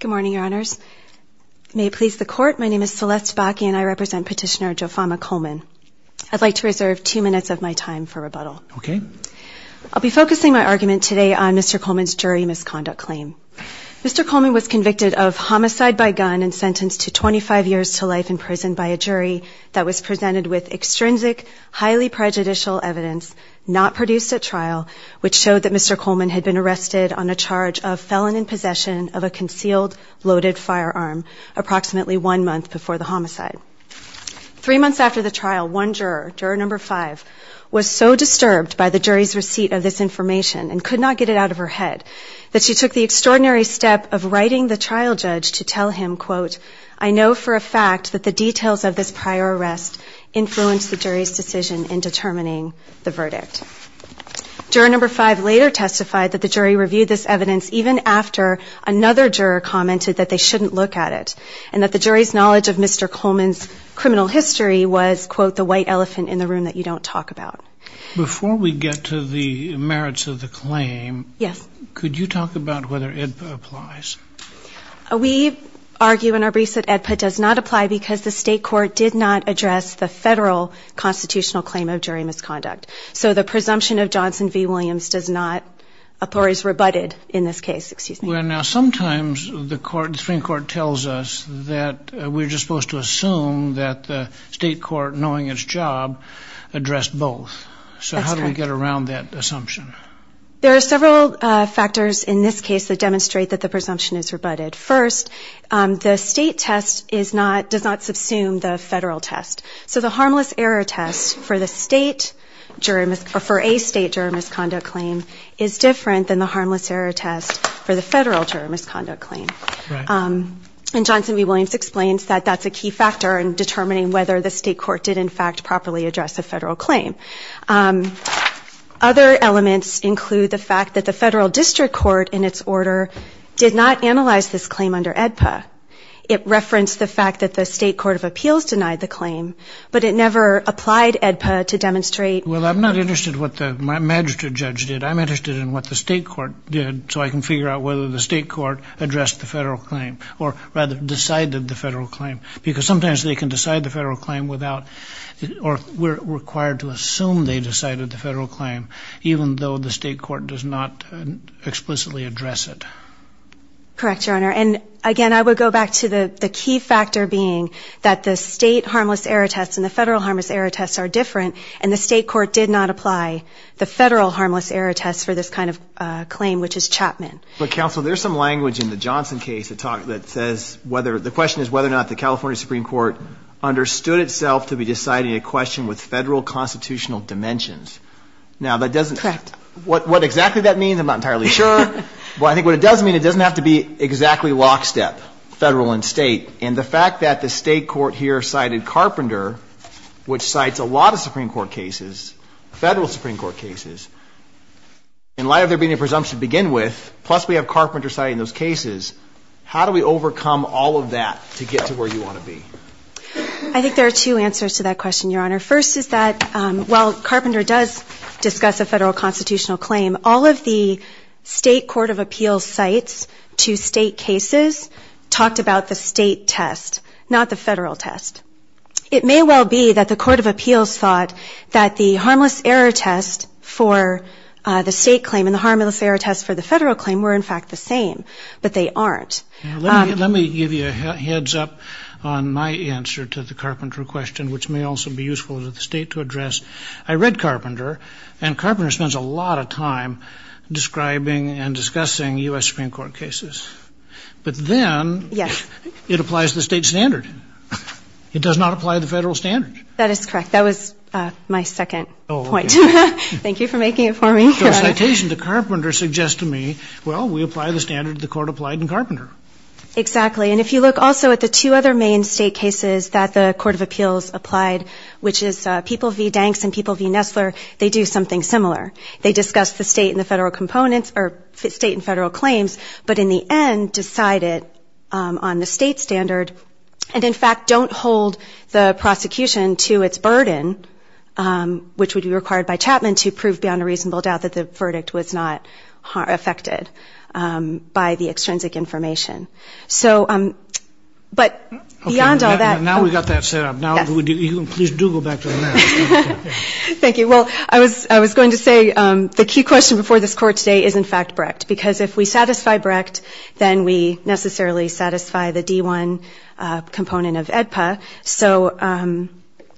Good morning, Your Honors. May it please the Court, my name is Celeste Bakke and I represent Petitioner Jofama Coleman. I'd like to reserve two minutes of my time for rebuttal. Okay. I'll be focusing my argument today on Mr. Coleman's jury misconduct claim. Mr. Coleman was convicted of homicide by gun and sentenced to 25 years to life in prison by a jury that was presented with extrinsic, highly prejudicial evidence not produced at trial, which showed that Mr. Coleman had been arrested on a charge of felon in possession of a concealed loaded firearm approximately one month before the homicide. Three months after the trial, one juror, Juror No. 5, was so disturbed by the jury's receipt of this information and could not get it out of her head that she took the extraordinary step of writing the trial judge to tell him, quote, I know for a fact that the details of this prior arrest influenced the jury's decision in determining the verdict. Juror No. 5 later testified that the jury reviewed this evidence even after another juror commented that they shouldn't look at it and that the jury's knowledge of Mr. Coleman's criminal history was, quote, the white elephant in the room that you don't talk about. Before we get to the merits of the claim, could you talk about whether AEDPA applies? We argue in our briefs that AEDPA does not apply because the state court did not address the federal constitutional claim of jury misconduct. So the presumption of Johnson v. Williams does not, or is rebutted in this case. Now sometimes the Supreme Court tells us that we're just supposed to assume that the state court, knowing its job, addressed both. So how do we get around that assumption? There are several factors in this case that demonstrate that the presumption is rebutted. First, the state test does not subsume the federal test. So the harmless error test for a state juror misconduct claim is different than the harmless error test for the federal juror misconduct claim. And Johnson v. Williams explains that that's a key factor in determining whether the state court did, in fact, properly address a federal claim. Other elements include the fact that the federal district court, in its order, did not analyze this claim under AEDPA. It referenced the fact that the state court of appeals denied the claim, but it never applied AEDPA to demonstrate... Well, I'm not interested in what the magistrate judge did. I'm interested in what the state court did so I can figure out whether the state court addressed the federal claim, or rather decided the federal claim. Because sometimes they can decide the federal claim without, or we're required to assume they decided the federal claim, even though the state court does not explicitly address it. Correct, Your Honor. And again, I would go back to the key factor being that the state harmless error test and the federal harmless error test are different, and the state court did not apply the federal harmless error test for this kind of claim, which is Chapman. But, counsel, there's some language in the Johnson case that says whether, the question is whether or not the California Supreme Court understood itself to be deciding a question with federal constitutional dimensions. Now, that doesn't, what exactly that means, I'm not entirely sure. But I think what it does mean, it doesn't have to be exactly lockstep, federal and state. And the fact that the state court here cited Carpenter, which cites a lot of Supreme Court cases, federal Supreme Court cases, in light of there being a presumption to begin with, plus we have Carpenter citing those cases, how do we overcome all of that to get to where you want to be? I think there are two answers to that question, Your Honor. First is that, while Carpenter does discuss a federal constitutional claim, all of the state court of appeals cites to state cases talked about the state test, not the federal test. It may well be that the court of appeals thought that the harmless error test for the state claim and the harmless error test for the federal claim were, in fact, the same, but they aren't. Let me give you a heads up on my answer to the Carpenter question, which may also be Carpenter, and Carpenter spends a lot of time describing and discussing U.S. Supreme Court cases. But then, it applies to the state standard. It does not apply to the federal standard. That is correct. That was my second point. Thank you for making it for me, Your Honor. So a citation to Carpenter suggests to me, well, we apply the standard the court applied in Carpenter. Exactly. And if you look also at the two other main state cases that the court of appeals applied, which is People v. Danks and People v. Nestler, they do something similar. They discuss the state and the federal components, or state and federal claims, but in the end decide it on the state standard and, in fact, don't hold the prosecution to its burden, which would be required by Chapman to prove beyond a reasonable doubt that the verdict was not affected by the extrinsic information. Okay. Now we've got that set up. Please do go back to the matter. Thank you. Well, I was going to say, the key question before this Court today is, in fact, Brecht, because if we satisfy Brecht, then we necessarily satisfy the D-1 component of AEDPA. So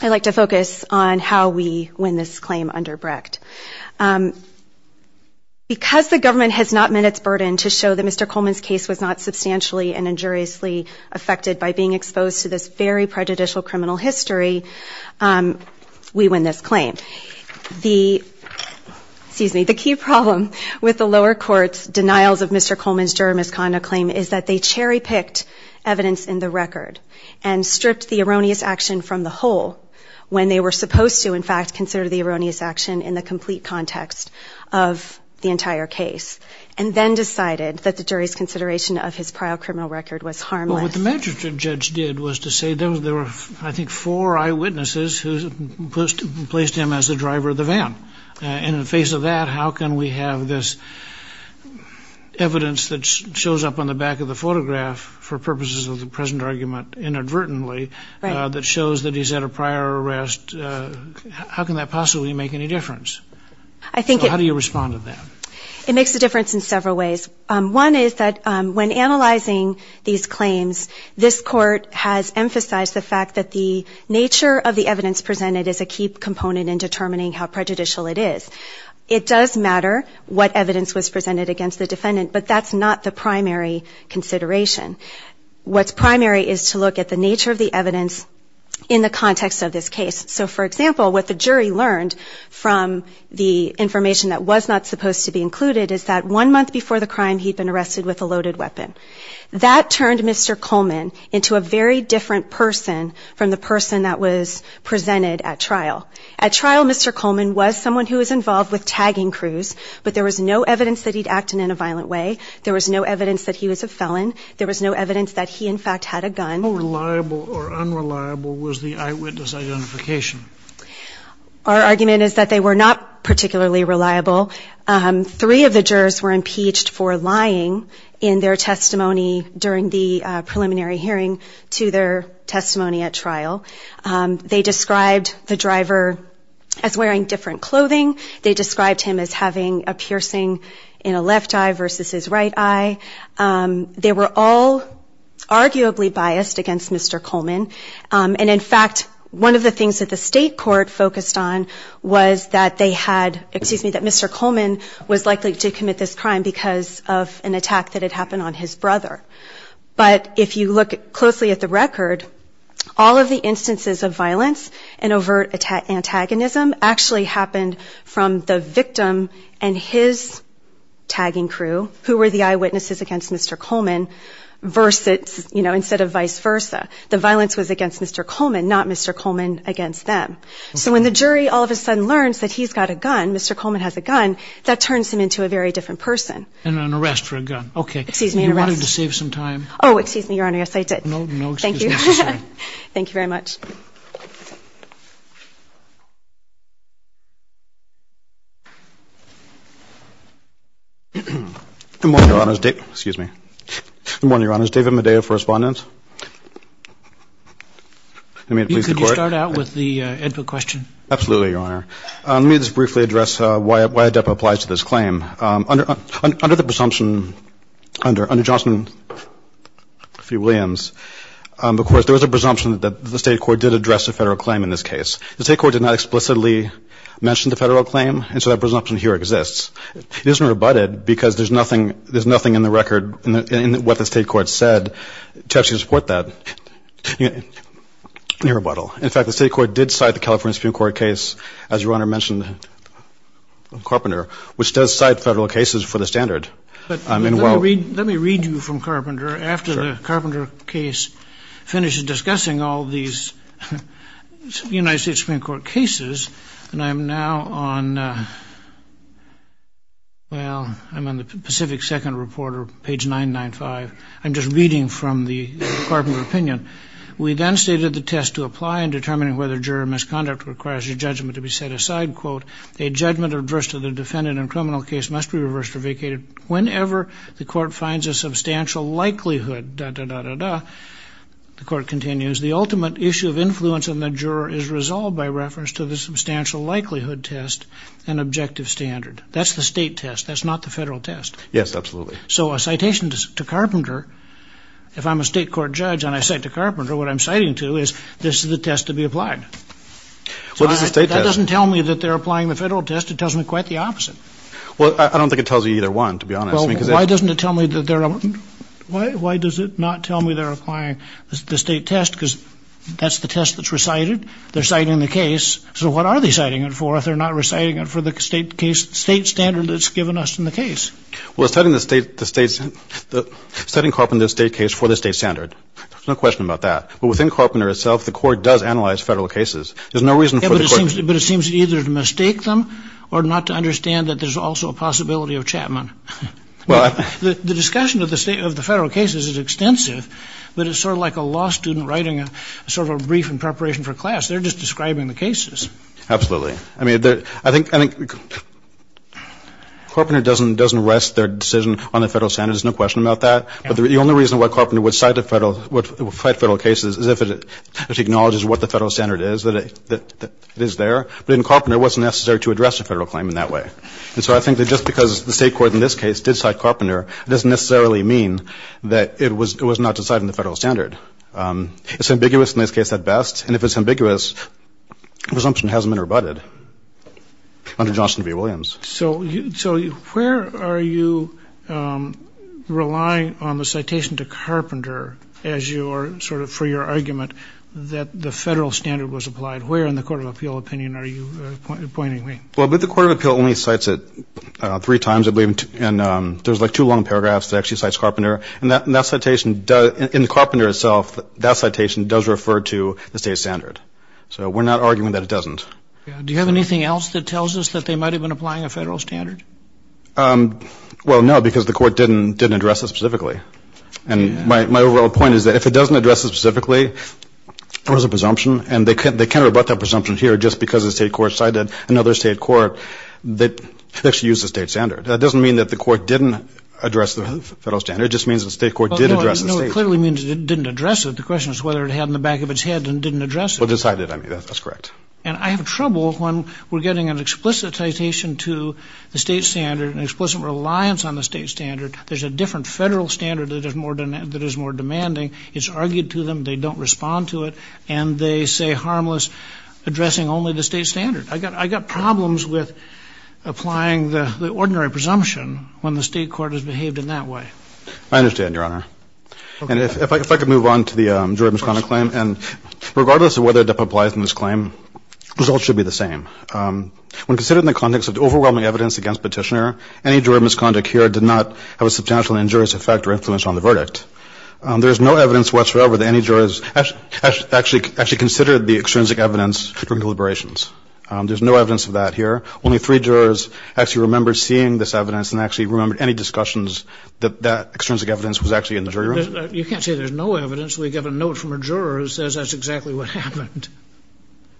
I'd like to focus on how we win this claim under Brecht. Because the government has not met its burden to show that Mr. Coleman's case was not substantially and injuriously affected by being exposed to this very prejudicial criminal history, we win this claim. The key problem with the lower court's denials of Mr. Coleman's juror misconduct claim is that they cherry-picked evidence in the record and stripped the erroneous action from the whole when they were supposed to, in fact, consider the erroneous action in the complete criminal record was harmless. Well, what the magistrate judge did was to say there were, I think, four eyewitnesses who placed him as the driver of the van. And in the face of that, how can we have this evidence that shows up on the back of the photograph for purposes of the present argument inadvertently that shows that he's had a prior arrest? How can that possibly make any difference? How do you respond to that? It makes a difference in several ways. One is that when analyzing these claims, this court has emphasized the fact that the nature of the evidence presented is a key component in determining how prejudicial it is. It does matter what evidence was presented against the defendant, but that's not the primary consideration. What's primary is to look at the nature of the evidence in the context of this case. So, for example, what the jury learned from the information that was not supposed to be included is that one month before the crime, he'd been arrested with a loaded weapon. That turned Mr. Coleman into a very different person from the person that was presented at trial. At trial, Mr. Coleman was someone who was involved with tagging crews, but there was no evidence that he'd acted in a violent way. There was no evidence that he was a felon. There was no evidence that he, in fact, had a gun. How reliable or unreliable was the eyewitness identification? Our argument is that they were not particularly reliable. Three of the jurors were impeached for lying in their testimony during the preliminary hearing to their testimony at trial. They described the driver as wearing different clothing. They described him as having a piercing in a left eye versus his right eye. They were all arguably biased against Mr. Coleman, and in fact, one of the things that the state court focused on was that they had, excuse me, that Mr. Coleman was likely to commit this crime because of an attack that had happened on his brother. But if you look closely at the record, all of the instances of violence and overt antagonism actually happened from the victim and his tagging crew, who were the eyewitnesses against Mr. Coleman, versus, you know, instead of vice versa. The violence was against Mr. Coleman, not Mr. Coleman against them. So when the jury all of a sudden learns that he's got a gun, Mr. Coleman has a gun, that turns him into a very different person. And an arrest for a gun. Okay, you wanted to save some time. Oh, excuse me, Your Honor. Yes, I did. Thank you. Thank you very much. Good morning, Your Honors. David Medea for Respondent. You can start out with the input question. Absolutely, Your Honor. Let me just briefly address why ADEPA applies to this claim. Under Johnson v. Williams, of course, there was a presumption that the state court did address a federal claim in this case. The state court did not explicitly mention the federal claim, and so that presumption here exists. It isn't rebutted because there's nothing in the record in what the state court said to actually support that rebuttal. In fact, the state court did cite the California Supreme Court case, as Your Honor mentioned, Carpenter, which does cite federal cases for the standard. Let me read you from Carpenter after the Carpenter case finishes discussing all these United States Supreme Court cases. And I'm now on, well, I'm on the Pacific Second Reporter, page 995. I'm just reading from the Carpenter opinion. We then stated the test to apply in determining whether jury misconduct requires your judgment to be set aside, quote, a judgment addressed to the defendant in a criminal case must be reversed or vacated whenever the court finds a substantial likelihood, da-da-da-da-da. The court continues, the ultimate issue of influence on the juror is resolved by reference to the substantial likelihood test and objective standard. That's the state test. That's not the federal test. Yes, absolutely. So a citation to Carpenter, if I'm a state court judge and I cite to Carpenter, what I'm citing to is this is the test to be applied. What is the state test? That doesn't tell me that they're applying the federal test. It tells me quite the opposite. Well, I don't think it tells you either one, to be honest. Well, why doesn't it tell me that they're, why does it not tell me they're applying the state test because that's the test that's recited? They're citing the case. So what are they citing it for if they're not reciting it for the state case, state standard that's given us in the case? Well, it's citing the state, the state, citing Carpenter's state case for the state standard. There's no question about that. But within Carpenter itself, the court does analyze federal cases. There's no reason for the court to. But it seems either to mistake them or not to understand that there's also a possibility of Chapman. Well, I. The discussion of the state, of the federal cases is extensive, but it's sort of like a law student writing a sort of a brief in preparation for class. They're just describing the cases. Absolutely. I mean, I think, I think Carpenter doesn't rest their decision on the federal standards. There's no question about that. But the only reason why Carpenter would cite federal cases is if it acknowledges what the federal standard is, that it is there. But in Carpenter, it wasn't necessary to address a federal claim in that way. And so I think that just because the state court in this case did cite Carpenter, it doesn't necessarily mean that it was not deciding the federal standard. It's ambiguous in this case at best. And if it's ambiguous, the presumption hasn't been rebutted under Johnson v. Williams. So where are you relying on the citation to Carpenter as your sort of for your argument that the federal standard was applied? Where in the Court of Appeal opinion are you pointing me? Well, the Court of Appeal only cites it three times, I believe. And there's like two long paragraphs that actually cites Carpenter. And that citation, in Carpenter itself, that citation does refer to the state standard. So we're not arguing that it doesn't. Do you have anything else that tells us that they might have been applying a federal standard? Well, no, because the court didn't address it specifically. And my overall point is that if it doesn't address it specifically, there was a presumption, and they can't rebut that presumption here just because the state court cited another state court that actually used the state standard. That doesn't mean that the court didn't address the federal standard. It just means the state court did address the state standard. Well, no, it clearly means it didn't address it. The question is whether it had in the back of its head and didn't address it. Well, it decided. I mean, that's correct. And I have trouble when we're getting an explicit citation to the state standard, an explicit reliance on the state standard. There's a different federal standard that is more demanding. It's argued to them. They don't respond to it. And they say harmless, addressing only the state standard. I got problems with applying the ordinary presumption when the state court has behaved in that way. I understand, Your Honor. And if I could move on to the juror misconduct claim. And regardless of whether a DUP applies in this claim, the results should be the same. When considered in the context of overwhelming evidence against Petitioner, any juror misconduct here did not have a substantial injurious effect or influence on the verdict. There is no evidence whatsoever that any jurors actually considered the extrinsic evidence during deliberations. There's no evidence of that here. Only three jurors actually remembered seeing this evidence and actually remembered any discussions that that extrinsic evidence was actually in the jury room. You can't say there's no evidence. We have a note from a juror who says that's exactly what happened.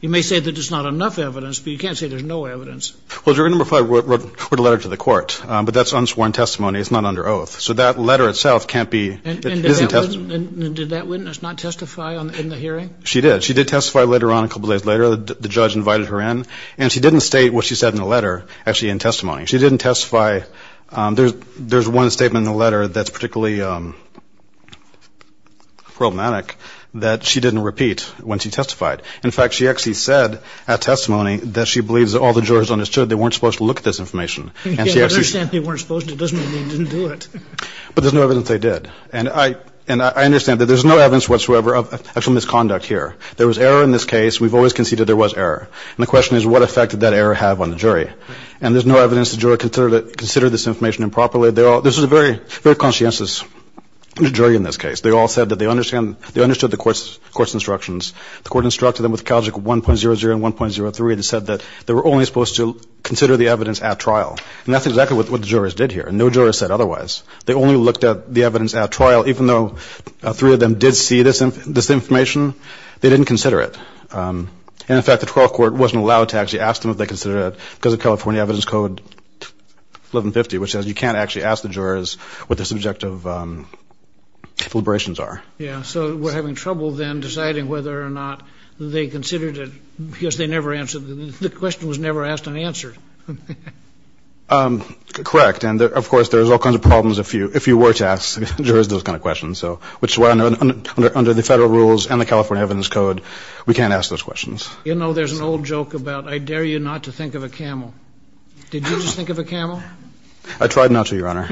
You may say that there's not enough evidence, but you can't say there's no evidence. Well, juror number five wrote a letter to the court. But that's unsworn testimony. It's not under oath. So that letter itself can't be. And did that witness not testify in the hearing? She did. She did testify later on, a couple days later. The judge invited her in. And she didn't state what she said in the letter actually in testimony. She didn't testify. There's one statement in the letter that's particularly problematic that she didn't repeat when she testified. In fact, she actually said at testimony that she believes all the jurors understood they weren't supposed to look at this information. I understand they weren't supposed to. It doesn't mean they didn't do it. But there's no evidence they did. And I understand that there's no evidence whatsoever of actual misconduct here. There was error in this case. We've always conceded there was error. And the question is what effect did that error have on the jury? And there's no evidence the juror considered this information improperly. This was a very conscientious jury in this case. They all said that they understood the court's instructions. The court instructed them with Calgic 1.00 and 1.03 and said that they were only supposed to consider the evidence at trial. And that's exactly what the jurors did here. And no juror said otherwise. They only looked at the evidence at trial. Even though three of them did see this information, they didn't consider it. And, in fact, the trial court wasn't allowed to actually ask them if they considered it because of California Evidence Code 1150, which says you can't actually ask the jurors what the subjective deliberations are. Yeah, so we're having trouble then deciding whether or not they considered it because they never answered it. The question was never asked and answered. Correct. And, of course, there's all kinds of problems if you were to ask jurors those kind of questions, which is why under the federal rules and the California Evidence Code, we can't ask those questions. You know, there's an old joke about I dare you not to think of a camel. Did you just think of a camel? I tried not to, Your Honor.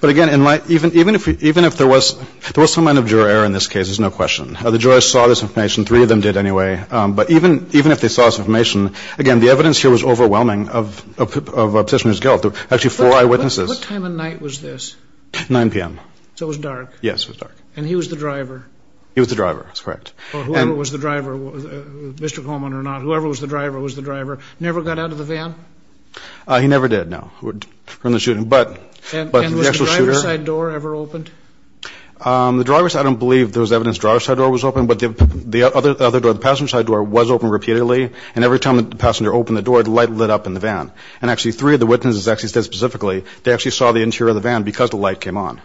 But, again, even if there was some kind of juror error in this case, there's no question. The jurors saw this information. Three of them did anyway. But even if they saw this information, again, the evidence here was overwhelming of a petitioner's guilt. There were actually four eyewitnesses. What time of night was this? 9 p.m. So it was dark. Yes, it was dark. And he was the driver. He was the driver. That's correct. Whoever was the driver, Mr. Coleman or not, whoever was the driver was the driver. Never got out of the van? He never did, no, from the shooting. And was the driver's side door ever opened? The driver's side, I don't believe there was evidence the driver's side door was open, but the other door, the passenger's side door, was open repeatedly. And every time the passenger opened the door, the light lit up in the van. And actually three of the witnesses actually said specifically they actually saw the interior of the van because the light came on.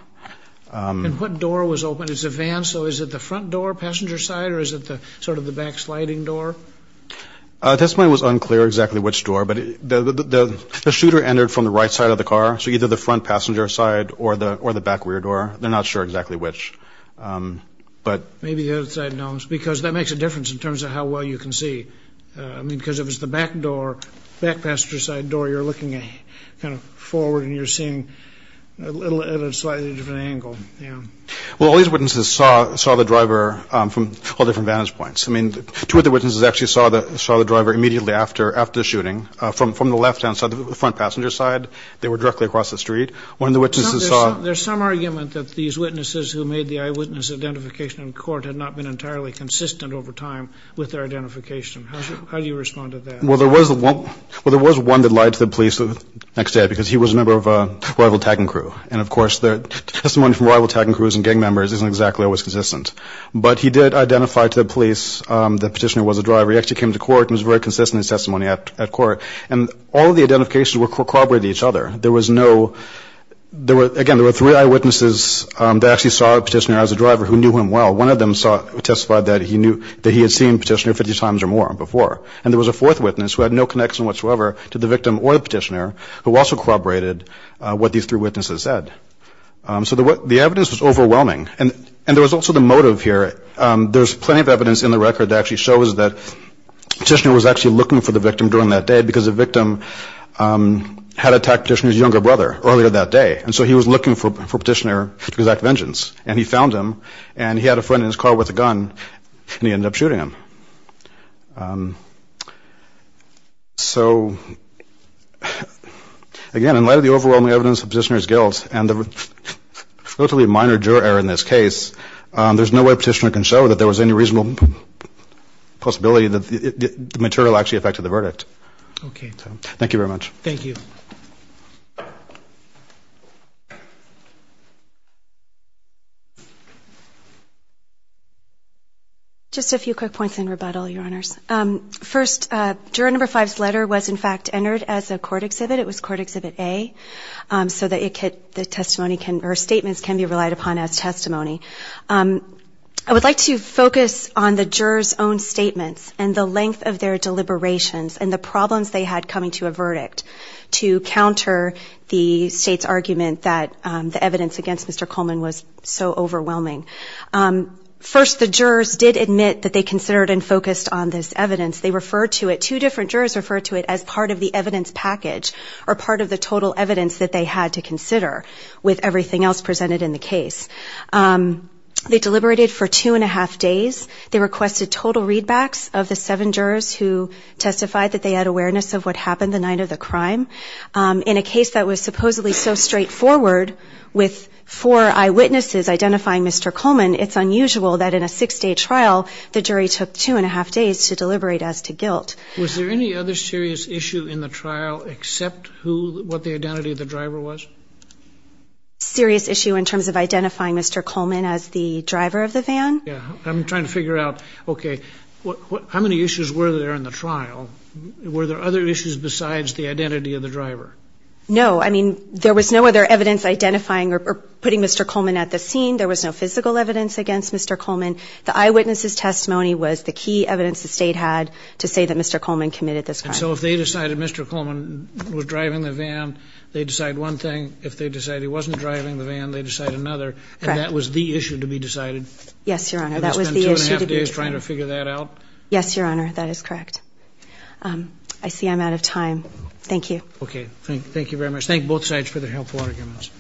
And what door was open? It's a van, so is it the front door, passenger's side, or is it sort of the back sliding door? At this point it was unclear exactly which door, but the shooter entered from the right side of the car, so either the front passenger's side or the back rear door. They're not sure exactly which. Maybe the other side knows because that makes a difference in terms of how well you can see. I mean, because if it's the back door, back passenger's side door, you're looking kind of forward and you're seeing at a slightly different angle. Well, all these witnesses saw the driver from all different vantage points. I mean, two of the witnesses actually saw the driver immediately after the shooting. From the left-hand side, the front passenger's side, they were directly across the street. One of the witnesses saw... There's some argument that these witnesses who made the eyewitness identification in court had not been entirely consistent over time with their identification. How do you respond to that? Well, there was one that lied to the police the next day because he was a member of a rival tagging crew. And, of course, the testimony from rival tagging crews and gang members isn't exactly always consistent. But he did identify to the police that Petitioner was a driver. He actually came to court and was very consistent in his testimony at court. And all of the identifications were corroborated with each other. There was no... Again, there were three eyewitnesses that actually saw Petitioner as a driver who knew him well. One of them testified that he had seen Petitioner 50 times or more before. And there was a fourth witness who had no connection whatsoever to the victim or the Petitioner who also corroborated what these three witnesses said. So the evidence was overwhelming. And there was also the motive here. There's plenty of evidence in the record that actually shows that Petitioner was actually looking for the victim during that day because the victim had attacked Petitioner's younger brother earlier that day. And so he was looking for Petitioner to exact vengeance. And he found him. And he had a friend in his car with a gun. And he ended up shooting him. So again, in light of the overwhelming evidence of Petitioner's guilt and the relatively minor juror error in this case, there's no way Petitioner can show that there was any reasonable possibility that the material actually affected the verdict. Okay. Thank you very much. Thank you. Just a few quick points in rebuttal, Your Honors. First, Juror No. 5's letter was, in fact, entered as a court exhibit. It was Court Exhibit A. So the testimony can or statements can be relied upon as testimony. I would like to focus on the jurors' own statements and the length of their deliberations and the problems they had coming to a verdict to counter the state's argument that the evidence against Mr. Coleman was so overwhelming. First, the jurors did admit that they considered and focused on this evidence. They referred to it. Two different jurors referred to it as part of the evidence package or part of the total evidence that they had to consider with everything else presented in the case. They deliberated for two and a half days. They requested total readbacks of the seven jurors who testified that they had awareness of what happened the night of the crime. In a case that was supposedly so straightforward with four eyewitnesses identifying Mr. Coleman, it's unusual that in a six-day trial the jury took two and a half days to deliberate as to guilt. Was there any other serious issue in the trial except what the identity of the driver was? Serious issue in terms of identifying Mr. Coleman as the driver of the van? Yeah. I'm trying to figure out, okay, how many issues were there in the trial? Were there other issues besides the identity of the driver? No. I mean, there was no other evidence identifying or putting Mr. Coleman at the scene. There was no physical evidence against Mr. Coleman. The eyewitnesses' testimony was the key evidence the state had to say that Mr. Coleman committed this crime. And so if they decided Mr. Coleman was driving the van, they decide one thing. If they decide he wasn't driving the van, they decide another. Correct. And that was the issue to be decided? Yes, Your Honor, that was the issue to be decided. And they spent two and a half days trying to figure that out? Yes, Your Honor, that is correct. I see I'm out of time. Thank you. Okay. Thank you very much. Thank both sides for their helpful arguments.